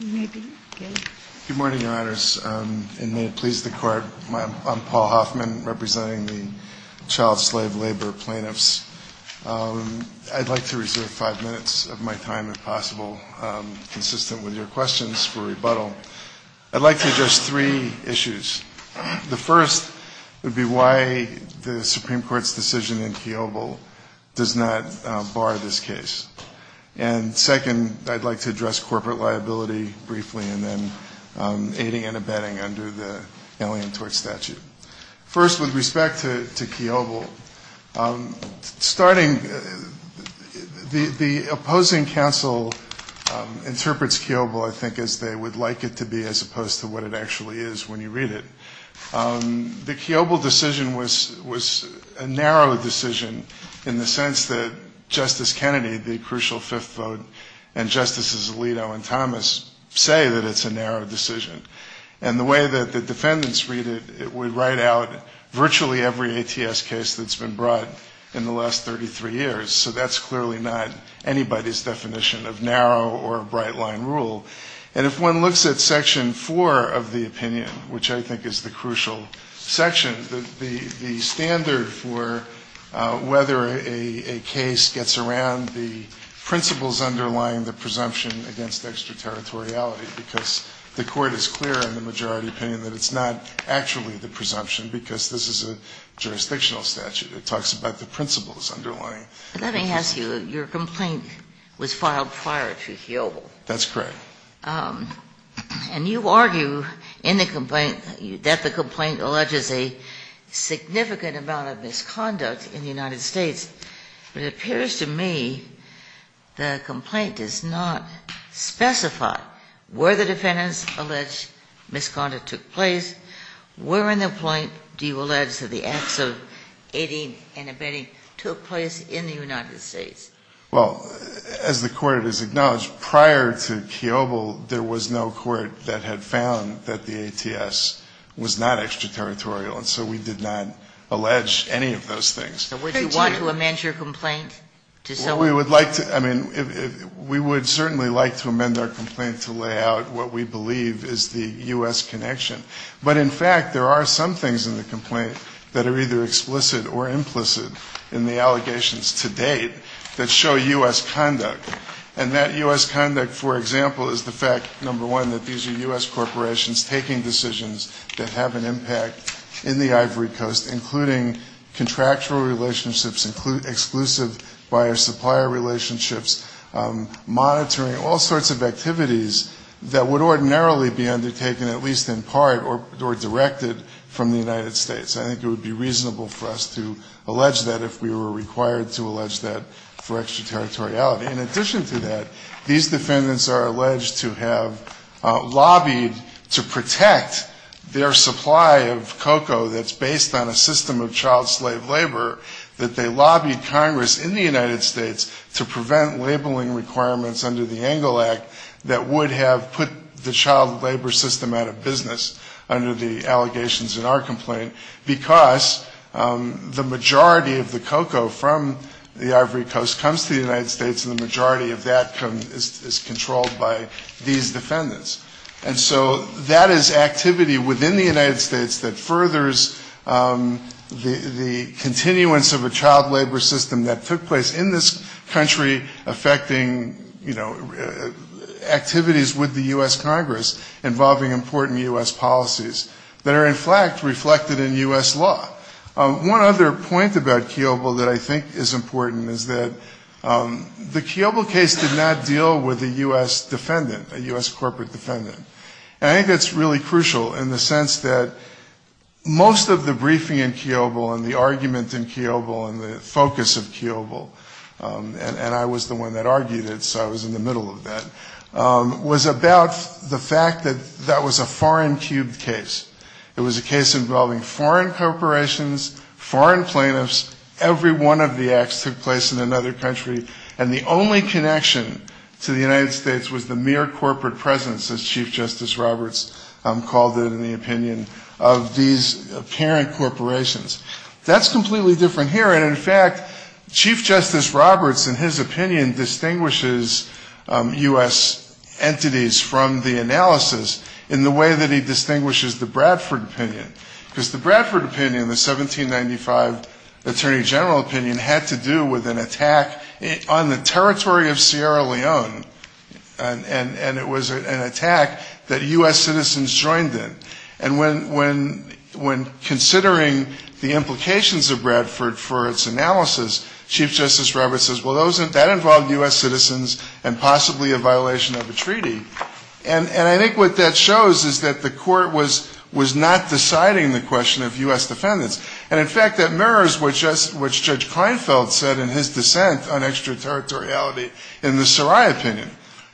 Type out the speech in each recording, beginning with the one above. Good morning, Your Honors, and may it please the Court, I'm Paul Hoffman, representing the Child Slave Labor plaintiffs. I'd like to reserve five minutes of my time if possible, consistent with your questions for rebuttal. I'd like to address three issues. The first would be why the Supreme Court's decision in Kiobel does not bar this case. And second, I'd like to address corporate liability briefly, and then aiding and abetting under the Alien Tort Statute. First, with respect to Kiobel, starting, the opposing counsel interprets Kiobel, I think, as they would like it to be, as opposed to what it actually is when you read it. The Kiobel decision was a narrow decision in the sense that Justice Kennedy, the crucial fifth vote, and Justices Alito and Thomas say that it's a narrow decision. And the way that the defendants read it, it would write out virtually every ATS case that's been brought in the last 33 years. So that's clearly not anybody's definition of narrow or bright-line rule. And if one looks at Section 4 of the opinion, which I think is the crucial section, the standard for whether a case gets around the principles underlying the presumption against extraterritoriality, because the Court is clear in the majority opinion that it's not actually the presumption, because this is a jurisdictional statute. It talks about the principles underlying the presumption. Ginsburg. Let me ask you, your complaint was filed prior to Kiobel. That's correct. And you argue in the complaint that the complaint alleges a significant amount of misconduct in the United States. But it appears to me the complaint does not specify where the defendants alleged misconduct took place, where in the complaint do you allege that the acts of aiding and abetting took place in the United States? Well, as the Court has acknowledged, prior to Kiobel, there was no court that had found that the ATS was not extraterritorial. And so we did not allege any of those things. So would you want to amend your complaint to someone? We would like to, I mean, we would certainly like to amend our complaint to lay out what we believe is the U.S. connection. But in fact, there are some things in the complaint that are either explicit or implicit in the allegations to date that show U.S. conduct. And that U.S. conduct, for example, is the fact, number one, that these are U.S. corporations taking decisions that have an impact in the Ivory Coast, including contractual relationships, including exclusive buyer-supplier relationships, monitoring all sorts of activities that would ordinarily be undertaken at least in part or directed from the United States. I think it would be reasonable for us to allege that if we were required to allege that for extraterritoriality. In addition to that, these defendants are alleged to have lobbied to protect their supply of cocoa that's based on a system of child slave labor, that they lobbied Congress in the United States to prevent labeling requirements under the Engle Act that would have put the child labor system out of business under the allegations in our complaint, because the majority of the cocoa from the Ivory Coast comes to the United States and the majority of that is controlled by these defendants. And so that is activity within the United States that furthers the continuance of a child labor system that took place in this country, affecting, you know, activities with the U.S. Congress, involving important U.S. policies that are in fact reflected in U.S. law. One other point about Kiobel that I think is important is that the Kiobel case did not deal with a U.S. defendant, a U.S. corporate defendant. And I think that's really crucial in the sense that most of the briefing in Kiobel and the argument in Kiobel and the focus of Kiobel, and I was the one that argued it, so I was in the middle of that, was about the fact that that was a foreign cube case. It was a case involving foreign corporations, foreign plaintiffs, every one of the acts took place in another country, and the only connection to the United States was the mere corporate presence, as Chief Justice Roberts called it in the opinion, of these apparent corporations. That's completely different here. And I think that Kiobel was trying to separate these U.S. entities from the analysis in the way that he distinguishes the Bradford opinion, because the Bradford opinion, the 1795 Attorney General opinion, had to do with an attack on the territory of Sierra Leone, and it was an attack that U.S. citizens joined in. And when considering the implications of Bradford for its analysis, Chief Justice Roberts says, well, that involved U.S. citizens and possibly a violation of a treaty. And I think what that shows is that the court was not deciding the question of U.S. defendants. And in fact, that mirrors what Judge Kleinfeld said in his dissent on extraterritoriality in the Sarai opinion.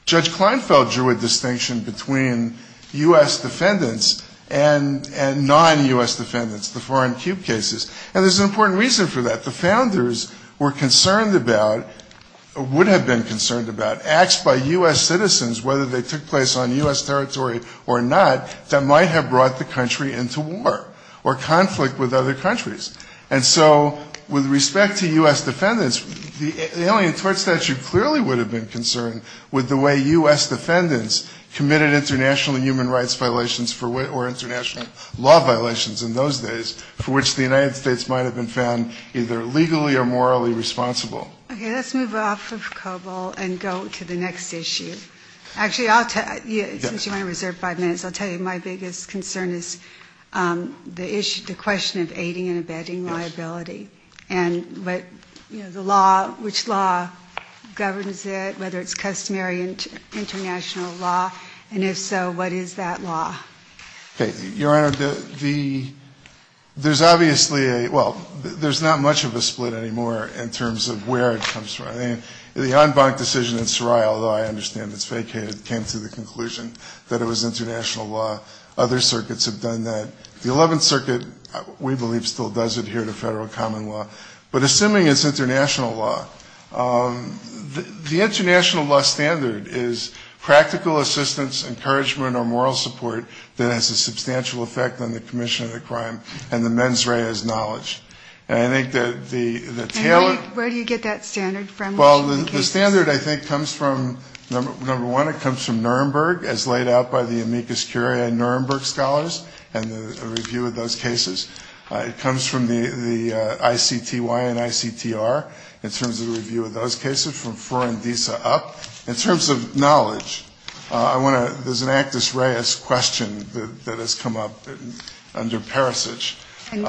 Judge Kleinfeld drew a distinction between U.S. defendants and non-U.S. defendants, the foreign states. And that's what the United States would have been concerned about, acts by U.S. citizens, whether they took place on U.S. territory or not, that might have brought the country into war or conflict with other countries. And so with respect to U.S. defendants, the Alien Tort Statute clearly would have been concerned with the way U.S. defendants committed international human rights violations or international law violations in those days for which the United States might have been found either legally or morally responsible. Okay, let's move off of COBOL and go to the next issue. Actually, I'll tell you, since you want to reserve five minutes, I'll tell you my biggest concern is the issue, the question of aiding and abetting liability and what, you know, the law, which law governs it, whether it's customary international law, and if so, what is that law? Okay, Your Honor, the, there's obviously a, well, there's not much of a split anymore in terms of the terms of where it comes from. I mean, the en banc decision in Sarai, although I understand it's vacated, came to the conclusion that it was international law. Other circuits have done that. The Eleventh Circuit, we believe, still does adhere to federal common law. But assuming it's international law, the international law standard is practical assistance, encouragement or moral support that has a substantial effect on the commission of the crime, and the mens rea is knowledge. And I think that the talent of the commission is a great asset to the commission. So where do you get that standard from? Well, the standard, I think, comes from, number one, it comes from Nuremberg, as laid out by the Amicus Curia and Nuremberg scholars, and the review of those cases. It comes from the ICTY and ICTR in terms of review of those cases, from Fror and Deese up. In terms of knowledge, I want to, there's an Actus Reis question that has come up under Rome's statute. No.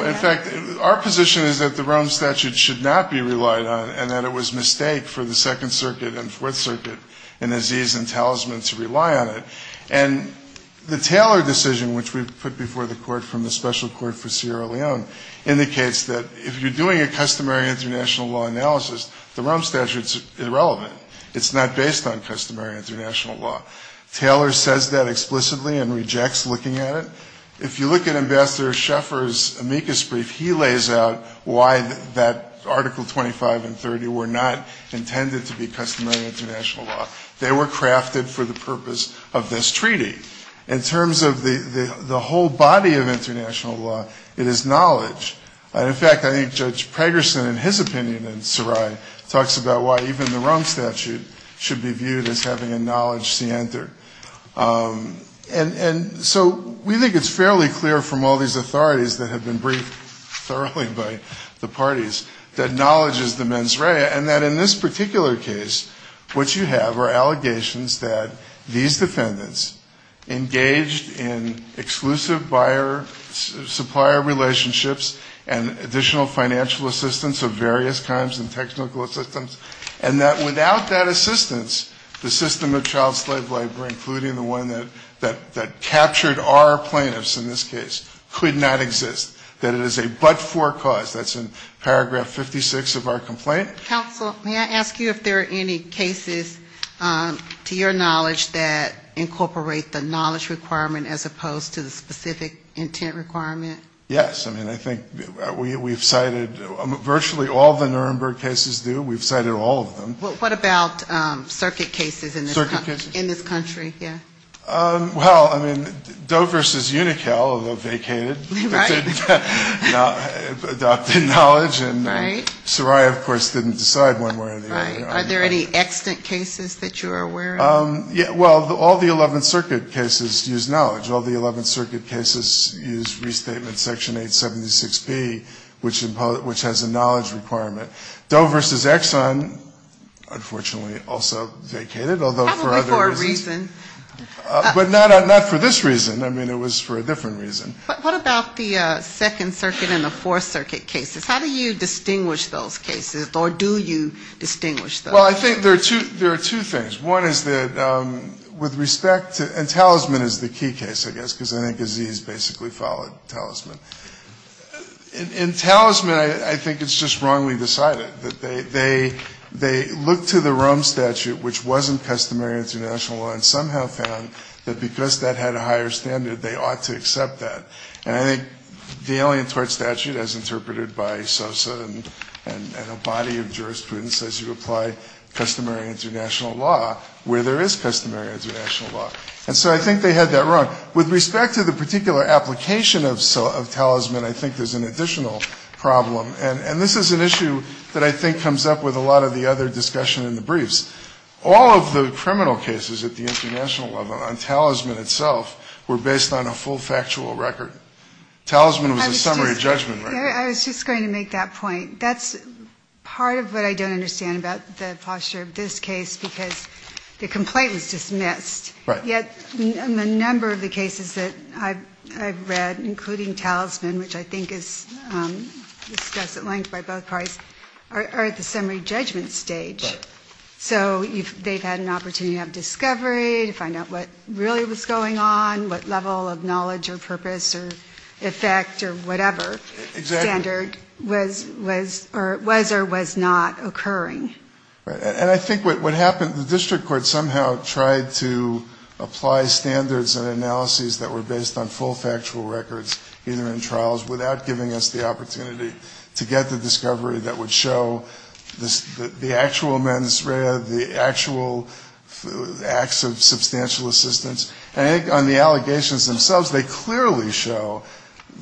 In fact, our position is that the Rome statute should not be relied on and that it was a mistake for the Second Circuit and Fourth Circuit and Aziz and Talisman to rely on it. And the Taylor decision, which we've put before the court from the special court for Sierra Leone, indicates that if you're doing a customary international law analysis, the Rome statute's irrelevant. It's not based on customary international law. Taylor says that explicitly and rejects looking at it. If you look at Ambassador Schaeffer's Amicus brief, he lays out why that Article 25 and 30 were not intended to be customary international law. They were crafted for the purpose of this treaty. In terms of the whole body of international law, it is knowledge. And in fact, I think Judge Pregerson, in his opinion, and Sarai, talks about why even the Rome statute should be viewed as having a knowledge scienter. And so we think it's fairly clear from all these authorities that have been briefed thoroughly by the parties that knowledge is the mens rea. And that in this particular case, what you have are allegations that these defendants engaged in exclusive buyer-supplier relationships and additional financial assistance of various kinds and technical assistance, and that without that assistance, the system of child slave labor, including the one that captured our plaintiffs in this case, could not exist, that it is a but-for cause. That's in paragraph 56 of our complaint. Counsel, may I ask you if there are any cases, to your knowledge, that incorporate the knowledge requirement as opposed to the specific intent requirement? Yes. I mean, I think we've cited virtually all the Nuremberg cases do. We've cited all of them. What about circuit cases in this country? Well, I mean, Doe v. Uniquel, though vacated, adopted knowledge, and Sarai, of course, didn't decide one way or the other. Are there any extant cases that you are aware of? Well, all the 11th Circuit cases use knowledge. All the 11th Circuit cases use restatement section 876B, which has a knowledge requirement. Doe v. Exxon, unfortunately, also vacated, although for other reasons. Probably for a reason. But not for this reason. I mean, it was for a different reason. What about the 2nd Circuit and the 4th Circuit cases? How do you distinguish those cases, or do you distinguish those? Well, I think there are two things. One is that, with respect to, and Talisman is the key case, I guess, because I think Aziz basically followed Talisman. In Talisman, I think it's just wrongly decided. They looked to the Rome Statute, which wasn't customary international law, and somehow found that because that had a higher standard, they ought to accept that. And I think the Alien Tort Statute, as interpreted by Sosa and a body of jurisprudence, says you apply customary international law where there is customary international law. And so I think they had that wrong. With respect to the particular application of Talisman, I think there's an additional problem. And this is an issue that I think comes up with a lot of the other discussion in the briefs. All of the criminal cases at the international level on Talisman itself were based on a full factual record. Talisman was a summary judgment record. I was just going to make that point. That's part of what I don't understand about the posture of this case, because the complaint was dismissed, yet a number of the cases that I've read, including Talisman, which I think is discussed at length by both parties, are at the summary judgment stage. So they've had an opportunity to have discovery, to find out what really was going on, what level of knowledge or purpose or effect or whatever standard was or was not occurring. And I think what happened, the district court somehow tried to apply standards and analyses that were based on full factual records, either in trials, without giving us the opportunity to get the discovery that would show the actual mens rea, the actual acts of substantial assistance. And I think on the allegations themselves, they clearly show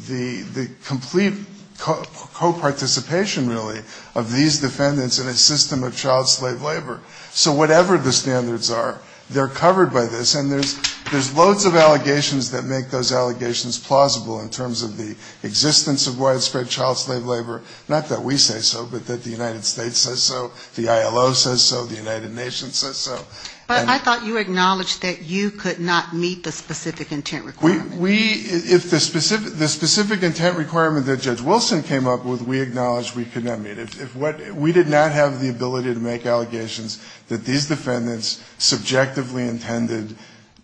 the complete co-participation, really, of these defendants in a system of child slave labor. So whatever the standards are, they're covered by this, and there's loads of allegations that make those allegations plausible in terms of the existence of widespread child slave labor. Not that we say so, but that the United States says so, the ILO says so, the United Nations says so. But I thought you acknowledged that you could not meet the specific intent requirement. We, if the specific intent requirement that Judge Wilson came up with, we acknowledged we could not meet it. We did not have the ability to make allegations that these defendants subjectively intended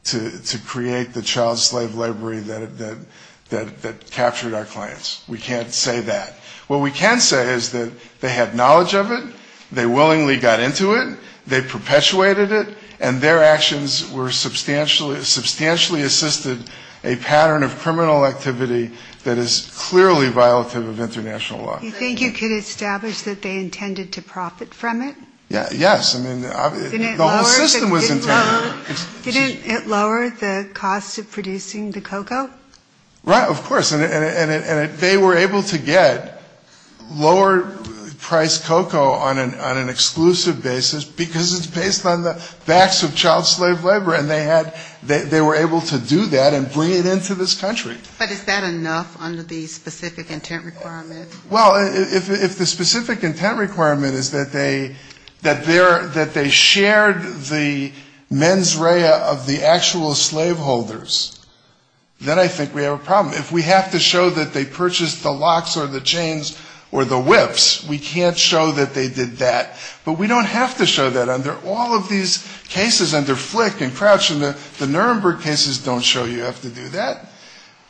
to create the child slave labor that captured our clients. We can't say that. What we can say is that they had knowledge of it, they willingly got into it, they perpetuated it, and their actions substantially assisted a pattern of criminal activity that is clearly violative of international law. You think you could establish that they intended to profit from it? Yes. I mean, the whole system was intended. Didn't it lower the cost of producing the cocoa? Right, of course. And they were able to get lower-priced cocoa on an exclusive basis because it's based on the facts of child slave labor, and they had, they were able to do that and bring it into this country. But is that enough under the specific intent requirement? Well, if the specific intent requirement is that they shared the mens rea of the actual slaveholders, then I think we have a problem. If we have to show that they purchased the locks or the chains or the whips, we can't show that they did that. But we don't have to show that under all of these cases under Flick and Crouch, and the Nuremberg cases don't show you have to do that.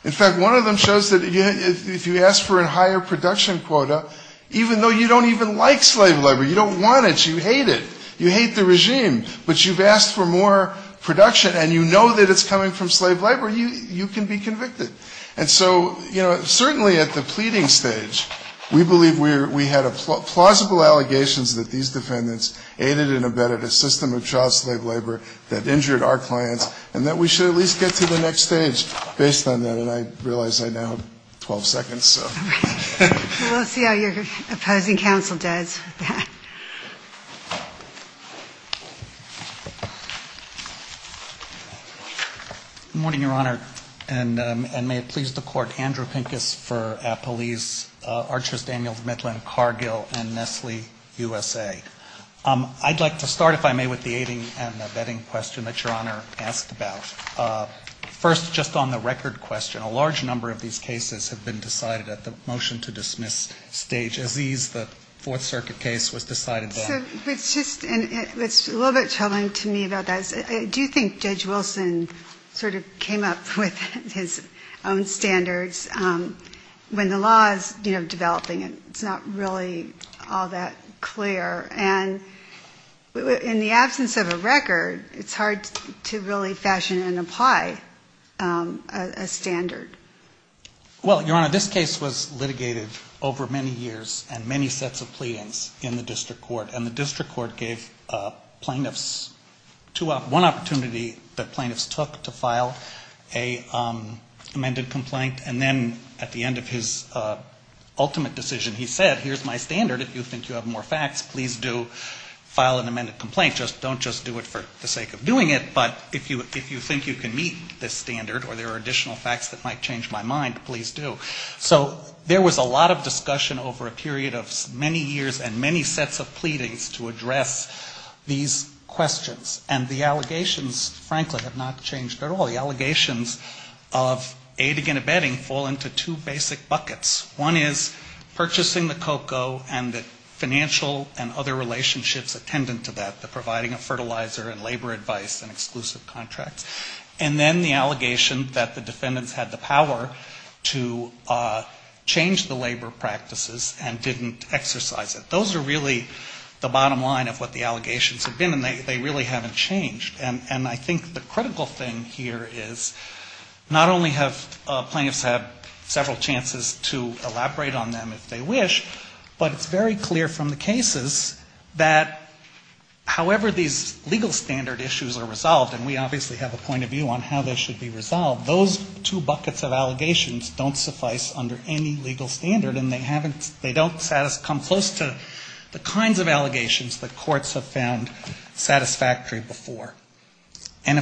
In fact, one of them shows that if you ask for a higher production quota, even though you don't even like slave labor, you don't want it, you hate it, you hate the regime, but you've asked for more production, and you know that it's coming from slave labor, you can be convicted. And so, you know, certainly at the pleading stage, we believe we had plausible allegations that these defendants aided and abetted a system of child slave labor that injured our clients, and that we should at least get to the next stage. Based on that, and I realize I now have 12 seconds, so. We'll see how your opposing counsel does. Good morning, Your Honor, and may it please the Court, Andrew Pincus for Appalese, Archers, Daniels, Midland, Cargill, and Nestle USA. I'd like to start, if I may, with the aiding and abetting question that Your Honor asked about. First, just on the record question, a large number of these cases have been decided at the motion to dismiss stage. Aziz, the Fourth Circuit case was decided there. It's a little bit troubling to me about that. I do think Judge Wilson sort of came up with his own standards. When the law is, you know, developing, it's not really all that clear, and in the absence of a record, it's hard to really question and apply a standard. Well, Your Honor, this case was litigated over many years and many sets of pleadings in the district court, and the district court gave plaintiffs one opportunity that plaintiffs took to file an amended complaint, and then at the end of his ultimate decision, he said, here's my standard. If you think you have more facts, please do file an amended complaint. Don't just do it for the sake of doing it, but if you think you can meet this standard or there are additional facts that might change my mind, please do. So there was a lot of discussion over a period of many years and many sets of pleadings to address these questions, and the allegations, frankly, have not changed at all. The allegations of aiding and abetting fall into two basic buckets. One is purchasing the COCO and the financial and other relationships attendant to that, the providing of fertilizer and labor advice and exclusive contracts. And then the allegation that the defendants had the power to change the labor practices and didn't exercise it. Those are really the bottom line of what the allegations have been, and they really haven't changed. And I think the critical thing here is not only have plaintiffs had several chances to elaborate on them if they wish, but it's very clear from the cases that however these legal standard issues are, they have not changed. And I think that's a very important point. And if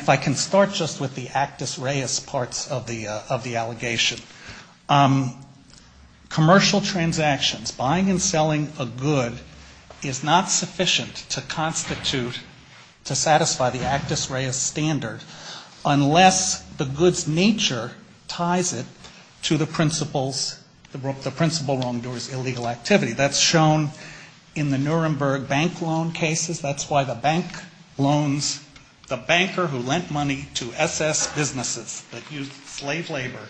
I can start just with the Actus Reis parts of the allegation. Commercial transactions, buying and selling a good is not sufficient to constitute, to satisfy the Actus Reis standard unless the good's nature ties it to the principal's, the principal wrongdoer's illegal activity. That's shown in the Nuremberg bank loan cases. That's why the bank loans, the banker who lent money to SS businesses that used slave labor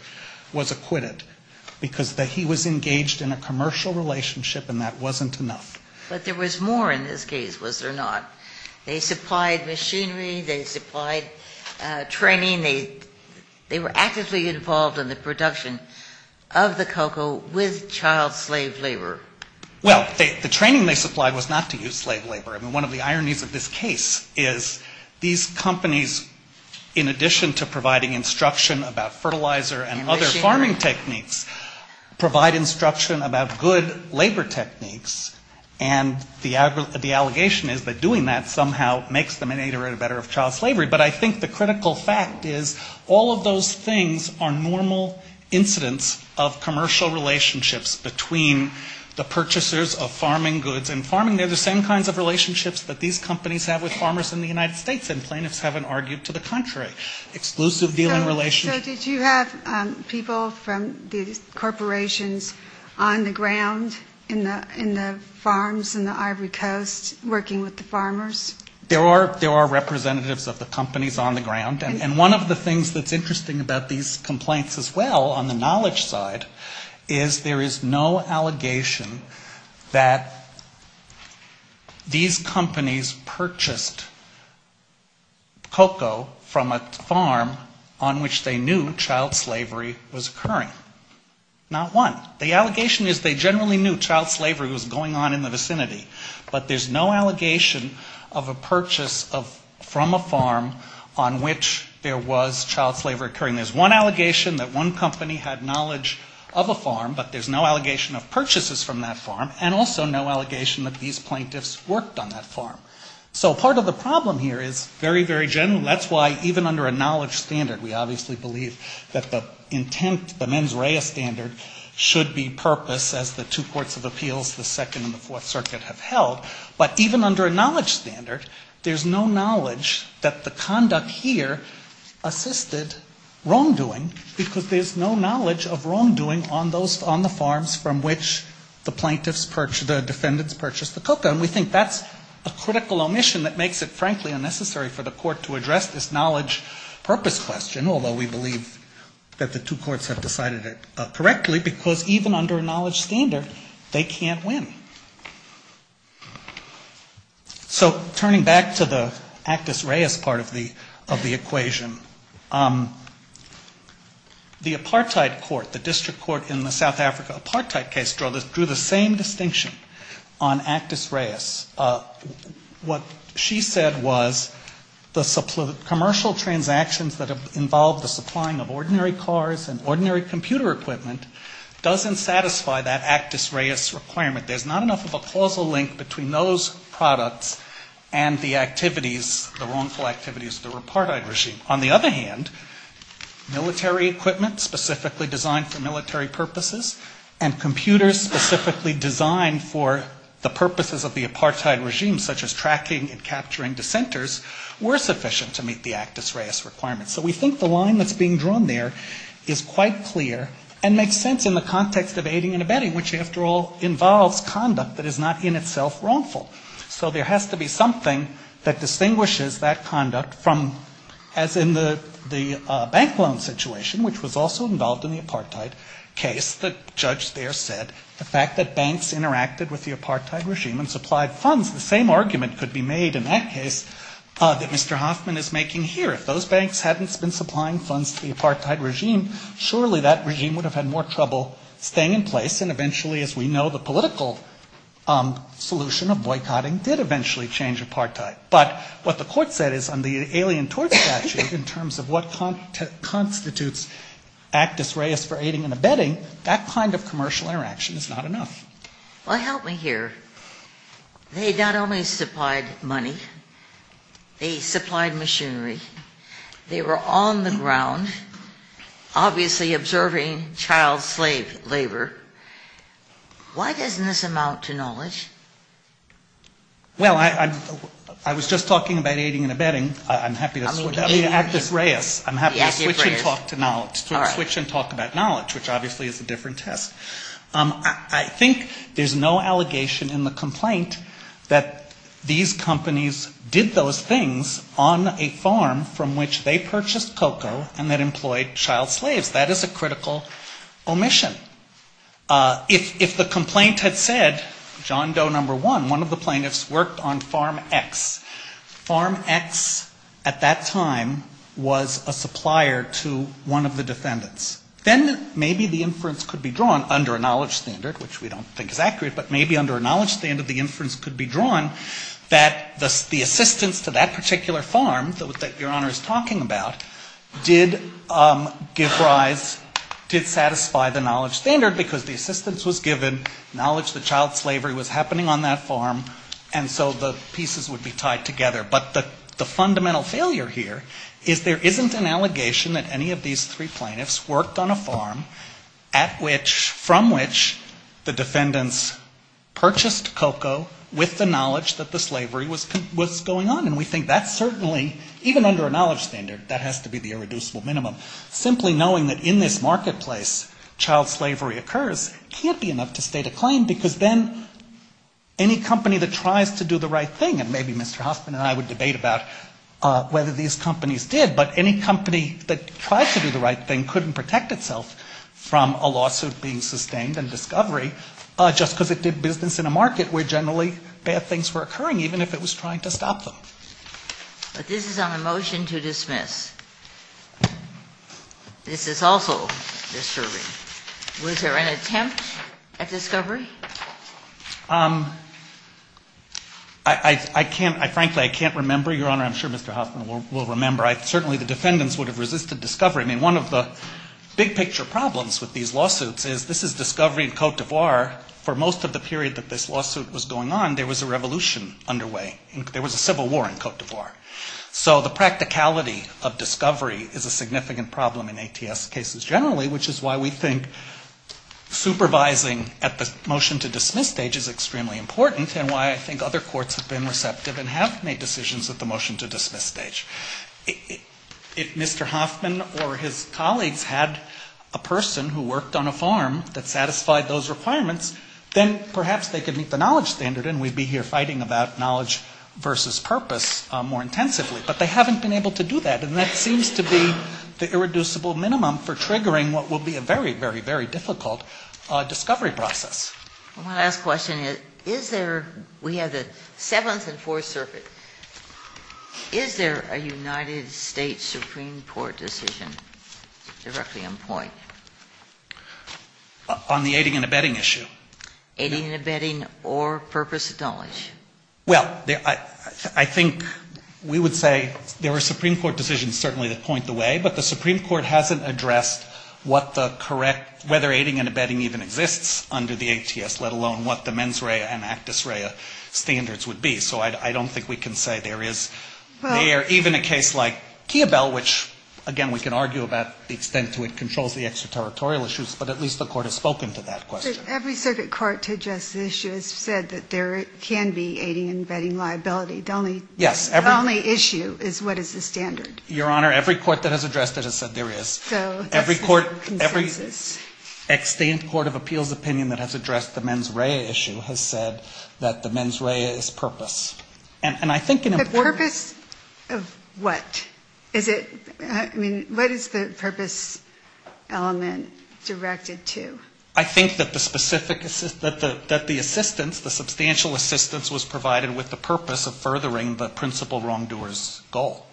was acquitted because he was engaged in a commercial relationship and that wasn't enough. They supplied machinery, they supplied training, they were actively involved in the production of the cocoa with child slave labor. Well, the training they supplied was not to use slave labor. I mean, one of the ironies of this case is these companies, in addition to providing instruction about fertilizer and other farming techniques, provide instruction about good labor techniques. And the allegation is that doing that somehow makes them an aid or a better of child slavery. But I think the critical fact is all of those things are normal incidents of commercial relationships between the purchasers of farming goods and farming. They're the same kinds of relationships that these companies have with farmers in the United States and plaintiffs haven't argued to the contrary. Exclusive dealing relations. So did you have people from these corporations on the ground in the farms in the Ivory Coast working with the farmers? There are representatives of the companies on the ground. And one of the things that's interesting about these complaints as well on the knowledge side is there is no allegation that these companies purchased cocoa from a farm on which they knew it was occurring. Not one. The allegation is they generally knew child slavery was going on in the vicinity. But there's no allegation of a purchase from a farm on which there was child slavery occurring. There's one allegation that one company had knowledge of a farm, but there's no allegation of purchases from that farm and also no allegation that these plaintiffs worked on that farm. So part of the problem here is very, very general. That's why even under a knowledge standard we obviously believe that the intent, the mens rea standard should be purpose as the two courts of appeals, the Second and the Fourth Circuit have held. But even under a knowledge standard, there's no knowledge that the conduct here assisted wrongdoing because there's no knowledge of wrongdoing on the farms from which the plaintiffs, the defendants purchased the cocoa. And we think that's a critical omission that makes it, frankly, unnecessary for the court to address this knowledge purpose question, although we believe that the two courts have decided it correctly, because even under a knowledge standard, they can't win. So turning back to the Actus Reis part of the equation, the apartheid court, the district court in the South Africa apartheid case drew the same distinction on Actus Reis. What she said was the commercial subpoena for the commercial transactions that involved the supplying of ordinary cars and ordinary computer equipment doesn't satisfy that Actus Reis requirement. There's not enough of a causal link between those products and the activities, the wrongful activities of the apartheid regime. On the other hand, military equipment specifically designed for military purposes and computers specifically designed for the Actus Reis requirement. So we think the line that's being drawn there is quite clear and makes sense in the context of aiding and abetting, which, after all, involves conduct that is not in itself wrongful. So there has to be something that distinguishes that conduct from, as in the bank loan situation, which was also involved in the apartheid case, the judge there said the fact that banks interacted with the apartheid regime and supplied funds, the same argument could be made in that case that Mr. Hoffman is making here. If those banks hadn't been supplying funds to the apartheid regime, surely that regime would have had more trouble staying in place, and eventually, as we know, the political solution of boycotting did eventually change apartheid. But what the court said is on the alien tort statute in terms of what constitutes Actus Reis for aiding and abetting, that kind of commercial interaction is not enough. Well, help me here. They not only supplied money, they supplied machinery. They were on the ground, obviously observing child slave labor. Why doesn't this amount to knowledge? Well, I was just talking about aiding and abetting. I'm happy to switch. I mean, Actus Reis. I'm happy to switch and talk about knowledge, which obviously is a different test. I think there's no allegation in the complaint that these companies did those things on a farm from which they purchased cocoa and that employed child slaves. That is a critical omission. If the complaint had said John Doe No. 1, one of the plaintiffs worked on Farm X, Farm X at that time was a supplier to one of the defendants, then maybe the inference could be drawn under a knowledge standard, which we don't think is accurate, but maybe under a knowledge standard the inference could be drawn that the assistance to that particular farm that Your Honor is talking about did give rise, did satisfy the knowledge standard, because the assistance was given, knowledge that child slavery was happening on that farm, and so the pieces would be tied together. But the fundamental failure here is there isn't an allegation that any of these three plaintiffs worked on a farm at which, from which the defendants purchased cocoa with the knowledge that the slavery was going on, and we think that's certainly, even under a knowledge standard, that has to be the irreducible minimum. Simply knowing that in this marketplace child slavery occurs can't be enough to state a claim, because then any company that tries to do the right thing, and maybe Mr. Hoffman and I would debate about whether these companies did, but any company that tried to do the right thing couldn't protect itself from a lawsuit being sustained in discovery, just because it did business in a market where generally bad things were occurring, even if it was trying to stop them. But this is on a motion to dismiss. This is also disturbing. Was there an attempt at discovery? I can't, frankly, I can't remember, Your Honor. I'm sure Mr. Hoffman will remember. Certainly the defendants would have resisted discovery. I mean, one of the big picture problems with these lawsuits is this is discovery in Cote d'Ivoire. For most of the period that this lawsuit was going on, there was a revolution underway. There was a civil war in Cote d'Ivoire. So the practicality of discovery is a significant problem in ATS cases generally, which is why we think supervising at the most to dismiss stage is extremely important, and why I think other courts have been receptive and have made decisions at the motion to dismiss stage. If Mr. Hoffman or his colleagues had a person who worked on a farm that satisfied those requirements, then perhaps they could meet the knowledge standard, and we'd be here fighting about knowledge versus purpose more intensively. But they haven't been able to do that, and that seems to be the irreducible minimum for triggering what will be a very, very, very difficult discovery process. One last question. Is there we have the Seventh and Fourth Circuit. Is there a United States Supreme Court decision directly in point? On the aiding and abetting issue. Aiding and abetting or purpose knowledge. Well, I think we would say there are Supreme Court decisions certainly that point the way, but the Supreme Court hasn't addressed what the correct, whether aiding and abetting even exists under the ATS, let alone what the mens rea and actus rea standards would be. So I don't think we can say there is there even a case like Kiabel, which, again, we can argue about the extent to which it controls the extraterritorial issues, but at least the Court has spoken to that question. Every circuit court to address the issue has said that there can be aiding and abetting liability. The only issue is what is the standard. Your Honor, every court that has addressed it has said there is. Every court of appeals opinion that has addressed the mens rea issue has said that the mens rea is purpose. The purpose of what? What is the purpose element directed to? I think that the assistance, the substantial assistance was provided with the purpose of furthering the principal wrongdoer's goal.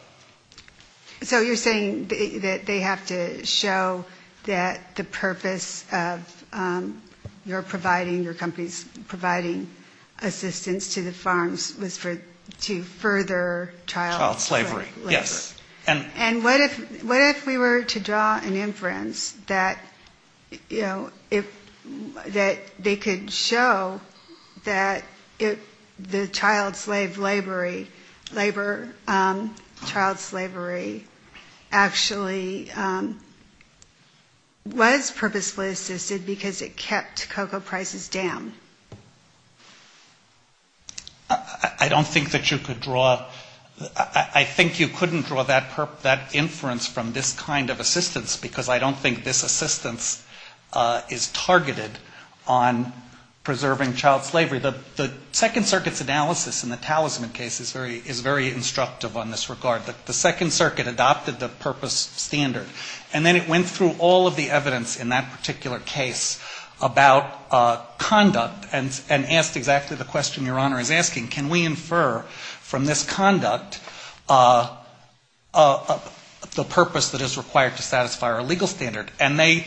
So you're saying that they have to show that the purpose of your providing, your company's providing assistance to the farms was to further child slavery. Yes. And what if we were to draw an inference that, you know, that they could show that the child slave labor, child slavery actually was purposefully assisted because it kept cocoa prices down? I don't think that you could draw, I think you couldn't draw that inference from this kind of assistance, because I don't think this assistance is targeted on preserving child slavery. The Second Circuit's analysis in the Talisman case is very instructive on this regard. The Second Circuit adopted the purpose standard, and then it went through all of the evidence in that particular case about conduct, and asked exactly the question Your Honor is asking, can we infer from this conduct the purpose that is required to satisfy our legal standard? And they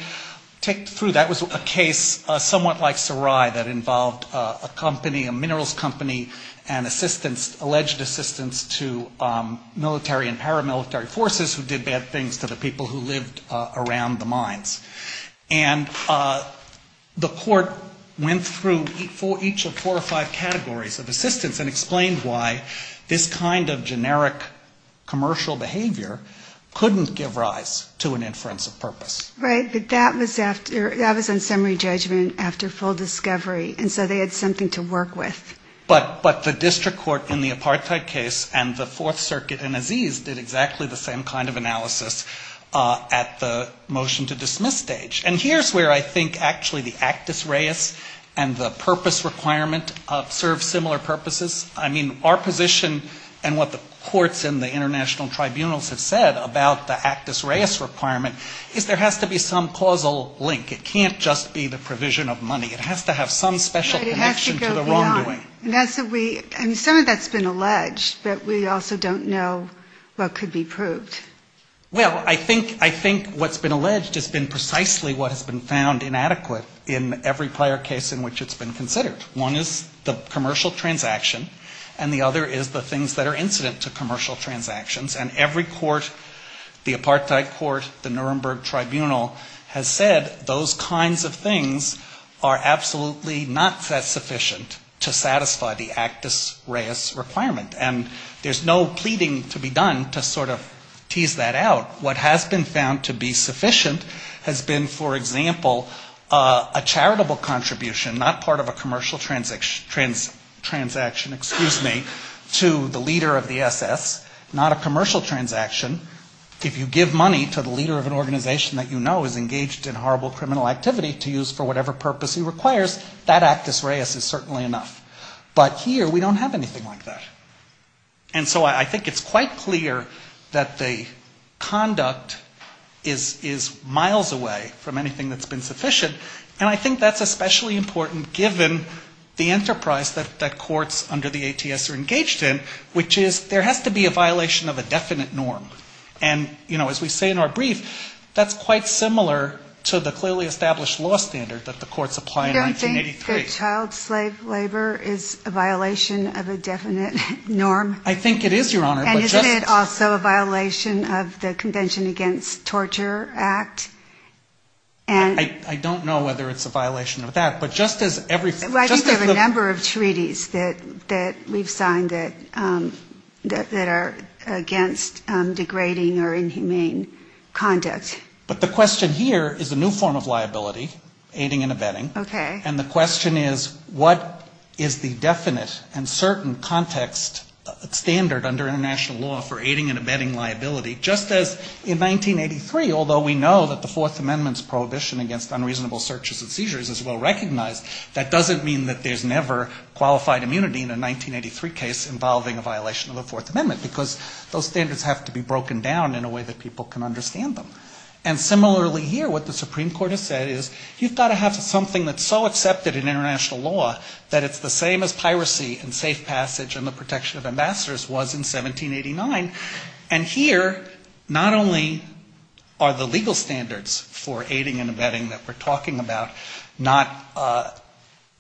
took through, that was a case somewhat like Sarai that involved a company, a minerals company, and assistance, alleged assistance to military and paramilitary forces who did bad things to the people who lived around the country. And the court went through each of four or five categories of assistance and explained why this kind of generic commercial behavior couldn't give rise to an inference of purpose. Right, but that was on summary judgment after full discovery, and so they had something to work with. But the district court in the Apartheid case and the Fourth Circuit and Aziz did exactly the same kind of analysis at the motion to establish the purpose standard. I mean, our position and what the courts and the international tribunals have said about the actus reus requirement is there has to be some causal link. It can't just be the provision of money. It has to have some special connection to the wrongdoing. Right, it has to go beyond. And some of that's been alleged, but we also don't know what could be proved. Well, I think what's been alleged has been precisely what has been found inadequate in every prior case in which it's been considered. One is the commercial transaction, and the other is the things that are incident to commercial transactions, and every court, the Apartheid court, the Nuremberg tribunal has said those kinds of things are absolutely not sufficient to satisfy the actus reus requirement, and there's no pleading to be done to sort of tease that out. What has been found to be sufficient has been, for example, a charitable contribution, not part of a commercial transaction, excuse me, to the leader of the SS, not a commercial transaction. If you give money to the leader of an organization that you know is engaged in horrible criminal activity to use for whatever purpose he requires, that actus reus is certainly enough. And so I think it's quite clear that the conduct is miles away from anything that's been sufficient, and I think that's especially important given the enterprise that courts under the ATS are engaged in, which is there has to be a violation of a definite norm. And, you know, as we say in our brief, that's quite similar to the clearly established law standard that the courts apply in 1983. Child slave labor is a violation of a definite norm? I think it is, Your Honor. And isn't it also a violation of the Convention Against Torture Act? I don't know whether it's a violation of that, but just as every... Well, I think there are a number of treaties that we've signed that are against degrading or inhumane conduct. But the question here is a new form of liability, aiding and abetting. And the question is what is the definite and certain context standard under international law for aiding and abetting liability, just as in 1983, although we know that the Fourth Amendment's prohibition against unreasonable searches and seizures is well recognized, that doesn't mean that there's never qualified immunity in a 1983 case involving a violation of the Fourth Amendment, because those standards have to be broken down in a way that people can understand them. And similarly here, what the Supreme Court has said is you've got to have something that's so accepted in international law that it's the same as piracy and safe passage and the protection of ambassadors was in 1789. And here not only are the legal standards for aiding and abetting that we're talking about not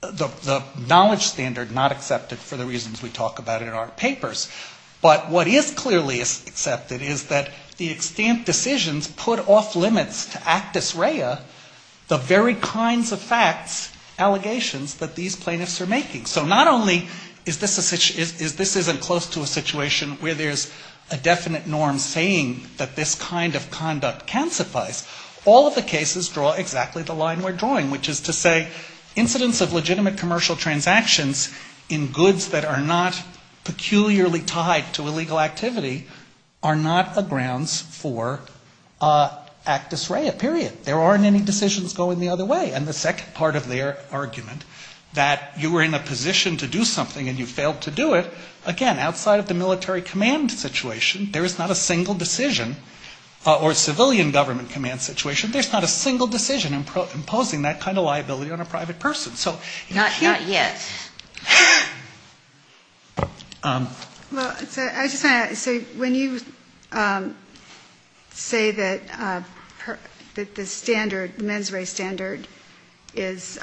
the knowledge standard not accepted for the reasons we talk about in our papers, but what is clearly accepted is that the extent decisions put off limits to actus rea, the very kinds of facts, allegations that these plaintiffs are making. So not only is this a situation, this isn't close to a situation where there's a definite norm saying that this kind of conduct can suffice, all of the cases draw exactly the line we're drawing, which is to say incidents of legitimate commercial transactions in goods that are not peculiarly tied to illegal activity are not grounds for actus rea, period. There aren't any decisions going the other way. And the second part of their argument, that you were in a position to do something and you failed to do it, again, outside of the military command situation, there is not a single decision or civilian government command situation, there's not a single decision imposing that kind of norm. So when you say that the standard, the mens rea standard is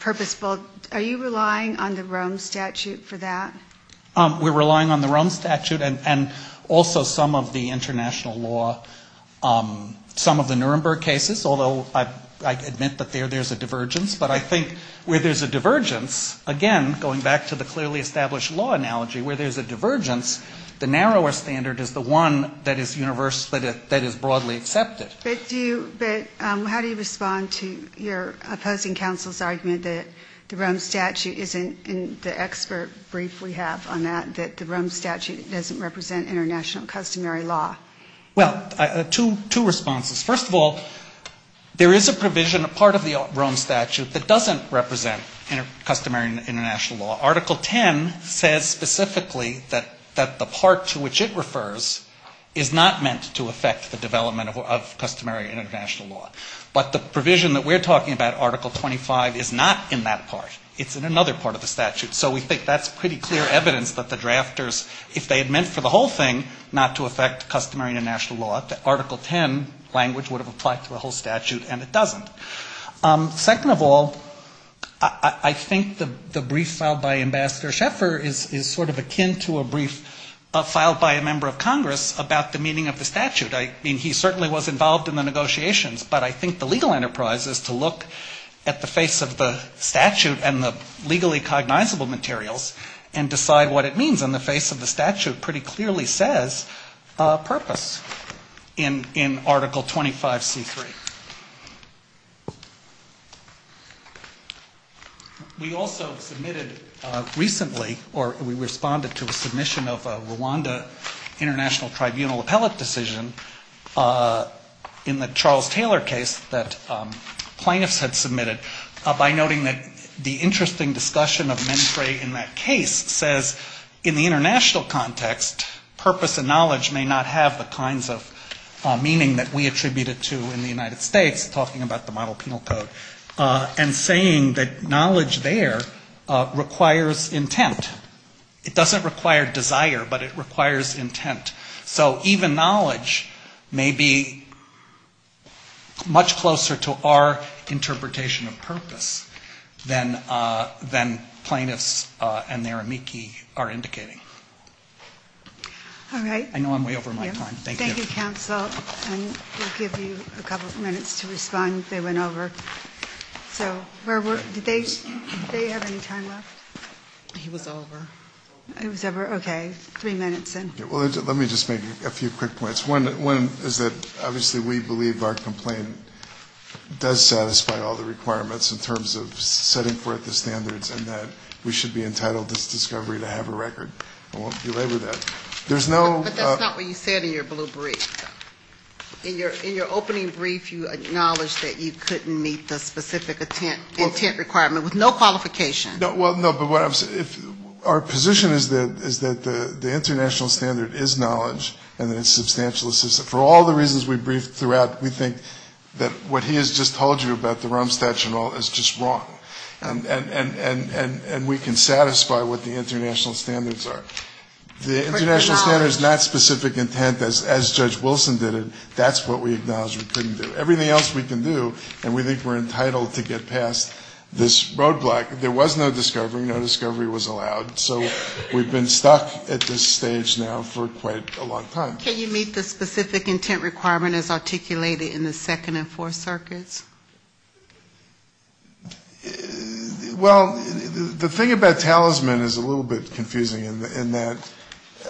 purposeful, are you relying on the Rome statute for that? We're relying on the Rome statute and also some of the international law, some of the Nuremberg cases, although I admit that there's a divergence, again, going back to the clearly established law analogy where there's a divergence, the narrower standard is the one that is universally, that is broadly accepted. But how do you respond to your opposing counsel's argument that the Rome statute isn't, in the expert brief we have on that, that the Rome statute doesn't represent international customary law? Well, two responses. First of all, it doesn't represent customary international law. Article 10 says specifically that the part to which it refers is not meant to affect the development of customary international law. But the provision that we're talking about, Article 25, is not in that part. It's in another part of the statute. So we think that's pretty clear evidence that the drafters, if they had meant for the whole thing not to affect customary international law, that Article 10 language would have applied to the whole statute, and it doesn't. Second of all, I think the brief filed by Ambassador Scheffer is sort of akin to a brief filed by a member of Congress about the meaning of the statute. I mean, he certainly was involved in the negotiations, but I think the legal enterprise is to look at the face of the statute and the legally cognizable materials and decide what it means. And the face of the statute pretty clearly says purpose. In Article 25C3. We also submitted recently, or we responded to a submission of a Rwanda international tribunal appellate decision in the Charles Taylor case that plaintiffs had submitted by noting that the interesting discussion of mentray in that case says in the international context, purpose and knowledge may not have the kinds of meaning that we attribute it to in the United States, talking about the model penal code, and saying that knowledge there requires intent. It doesn't require desire, but it requires intent. So even knowledge may be much closer to our interpretation of purpose than plaintiffs and their amici are indicating. All right. I know I'm way over my time. Thank you. Thank you, counsel. And we'll give you a couple of minutes to respond. They went over. So did they have any time left? He was over. He was over. Okay. Three minutes in. Well, let me just make a few quick points. One is that obviously we believe our complaint does satisfy all the requirements in terms of setting forth the standards and that we should be entitled this discovery to have a record. I won't belabor that. But that's not what you said in your blue brief. In your opening brief, you acknowledged that you couldn't meet the specific intent requirement with no qualification. Well, no, but what I'm saying, our position is that the international standard is knowledge and that it's substantial. For all the reasons we briefed throughout, we think that what he has just told you about the Rome Statue and all is just wrong. And we can satisfy what the international standards are. The international standard is not specific intent as Judge Wilson did it. That's what we acknowledged we couldn't do. Everything else we can do and we think we're entitled to get past this roadblock. There was no discovery. No discovery was allowed. So we've been stuck at this stage now for quite a long time. Can you meet the specific intent requirement as articulated in the second and fourth circuits? Well, the thing about Talisman is a little bit confusing in that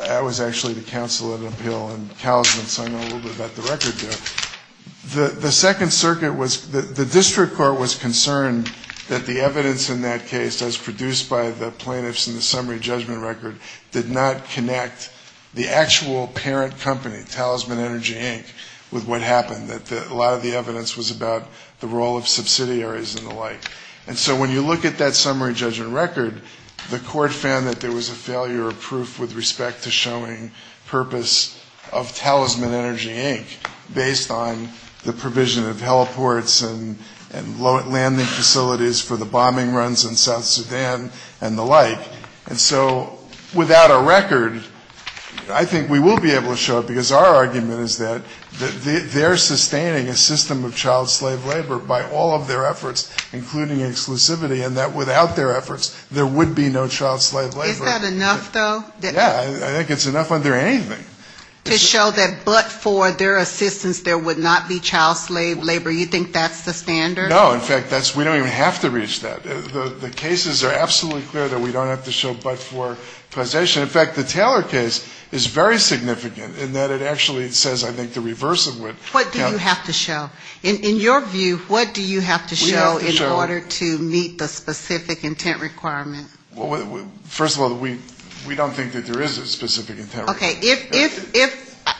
I was actually the counsel at an appeal in Talisman, so I know a little bit about the record there. The second circuit was the district court was concerned that the evidence in that case, as produced by the plaintiffs in the summary judgment record, did not connect the actual parent company, Talisman Energy, Inc., with what happened. That a lot of the evidence was about the role of subsidiaries and the like. And so when you look at that summary judgment record, the court found that there was a failure of proof with respect to showing purpose of Talisman Energy, Inc., based on the provision of heliports and landing facilities for the bombing runs in South Sudan and the like. And so without a record, I think we will be able to show it, because our argument is that their suspicions were wrong. I think it's enough under anything. To show that but for their assistance there would not be child slave labor, you think that's the standard? No, in fact, we don't even have to reach that. The cases are absolutely clear that we don't have to show but for possession. In fact, the Taylor case is very significant in that it actually says I think the reverse of it. What do you have to show? In your view, what do you have to show in order to meet the specific intent requirement? First of all, we don't think that there is a specific intent requirement. Okay.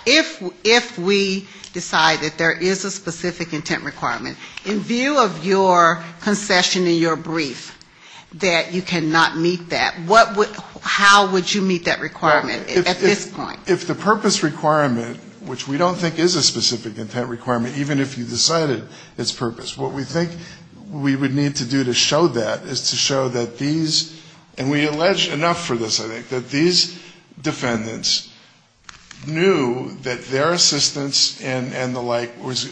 If we decide that there is a specific intent requirement, in view of your concession in your brief that you cannot meet that, how would you meet that? If the purpose requirement, which we don't think is a specific intent requirement, even if you decided it's purpose, what we think we would need to do to show that is to show that these, and we allege enough for this, I think, that these defendants knew that their assistance and the like was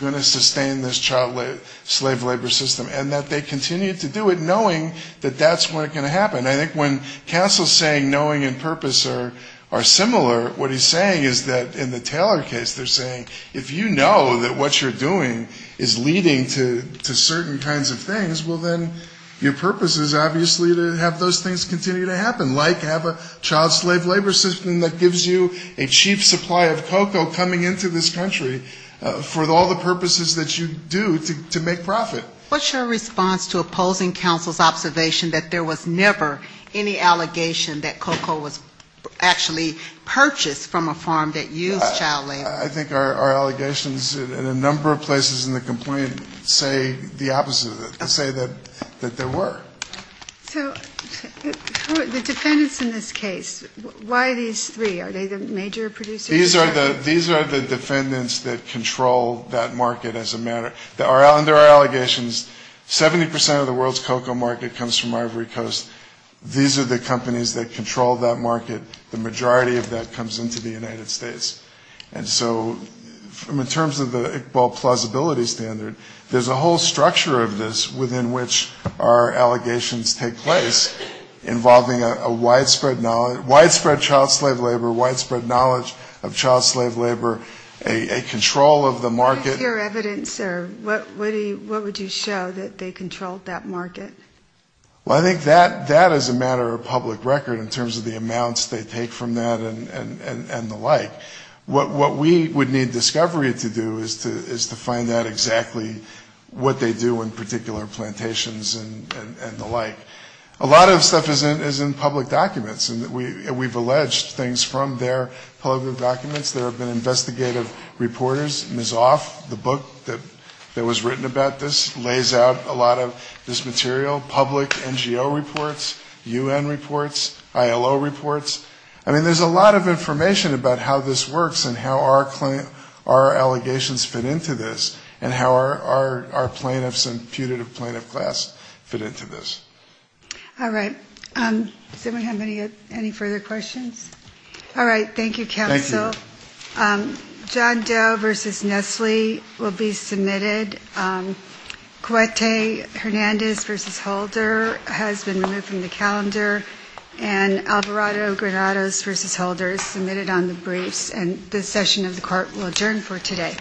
going to sustain this child slave labor system and that they continued to do it knowing that that's what was going to happen. I think when counsel is saying knowing and purpose are similar, what he's saying is that in the Taylor case they're saying if you know that what you're doing is leading to certain kinds of things, well, then your purpose is obviously to have those things continue to happen, like have a child slave labor system that gives you a cheap supply of cocoa coming into this country for all the purposes that you do to make profit. What's your response to opposing counsel's observation that there was never any allegation that cocoa was actually purchased from a farm that used child labor? I think our allegations in a number of places in the complaint say the opposite of that. They say that there were. So the defendants in this case, why these three? Are they the major producers? These are the defendants that control that market as a matter, and there are allegations. 70% of the world's cocoa market comes from Ivory Coast. These are the companies that control that market. The majority of that comes into the United States. And so in terms of the Iqbal plausibility standard, there's a whole structure of this within which our allegations take place involving a widespread, widespread child slave labor, widespread knowledge of child slave labor. A control of the market. What is your evidence there? What would you show that they controlled that market? Well, I think that is a matter of public record in terms of the amounts they take from that and the like. What we would need discovery to do is to find out exactly what they do in particular plantations and the like. A lot of stuff is in public documents, and we've alleged things from their public documents. There have been investigative reporters, Ms. Off, the book that was written about this, lays out a lot of this material, public NGO reports, UN reports, ILO reports. I mean, there's a lot of information about how this works and how our allegations fit into this and how our plaintiffs and putative plaintiff class fit into this. All right. Does anyone have any further questions? All right. Thank you, counsel. John Doe v. Nestle will be submitted. Cuete Hernandez v. Holder has been removed from the calendar, and Alvarado Granados v. Holder is submitted on the briefs, and this session of the court will adjourn for today.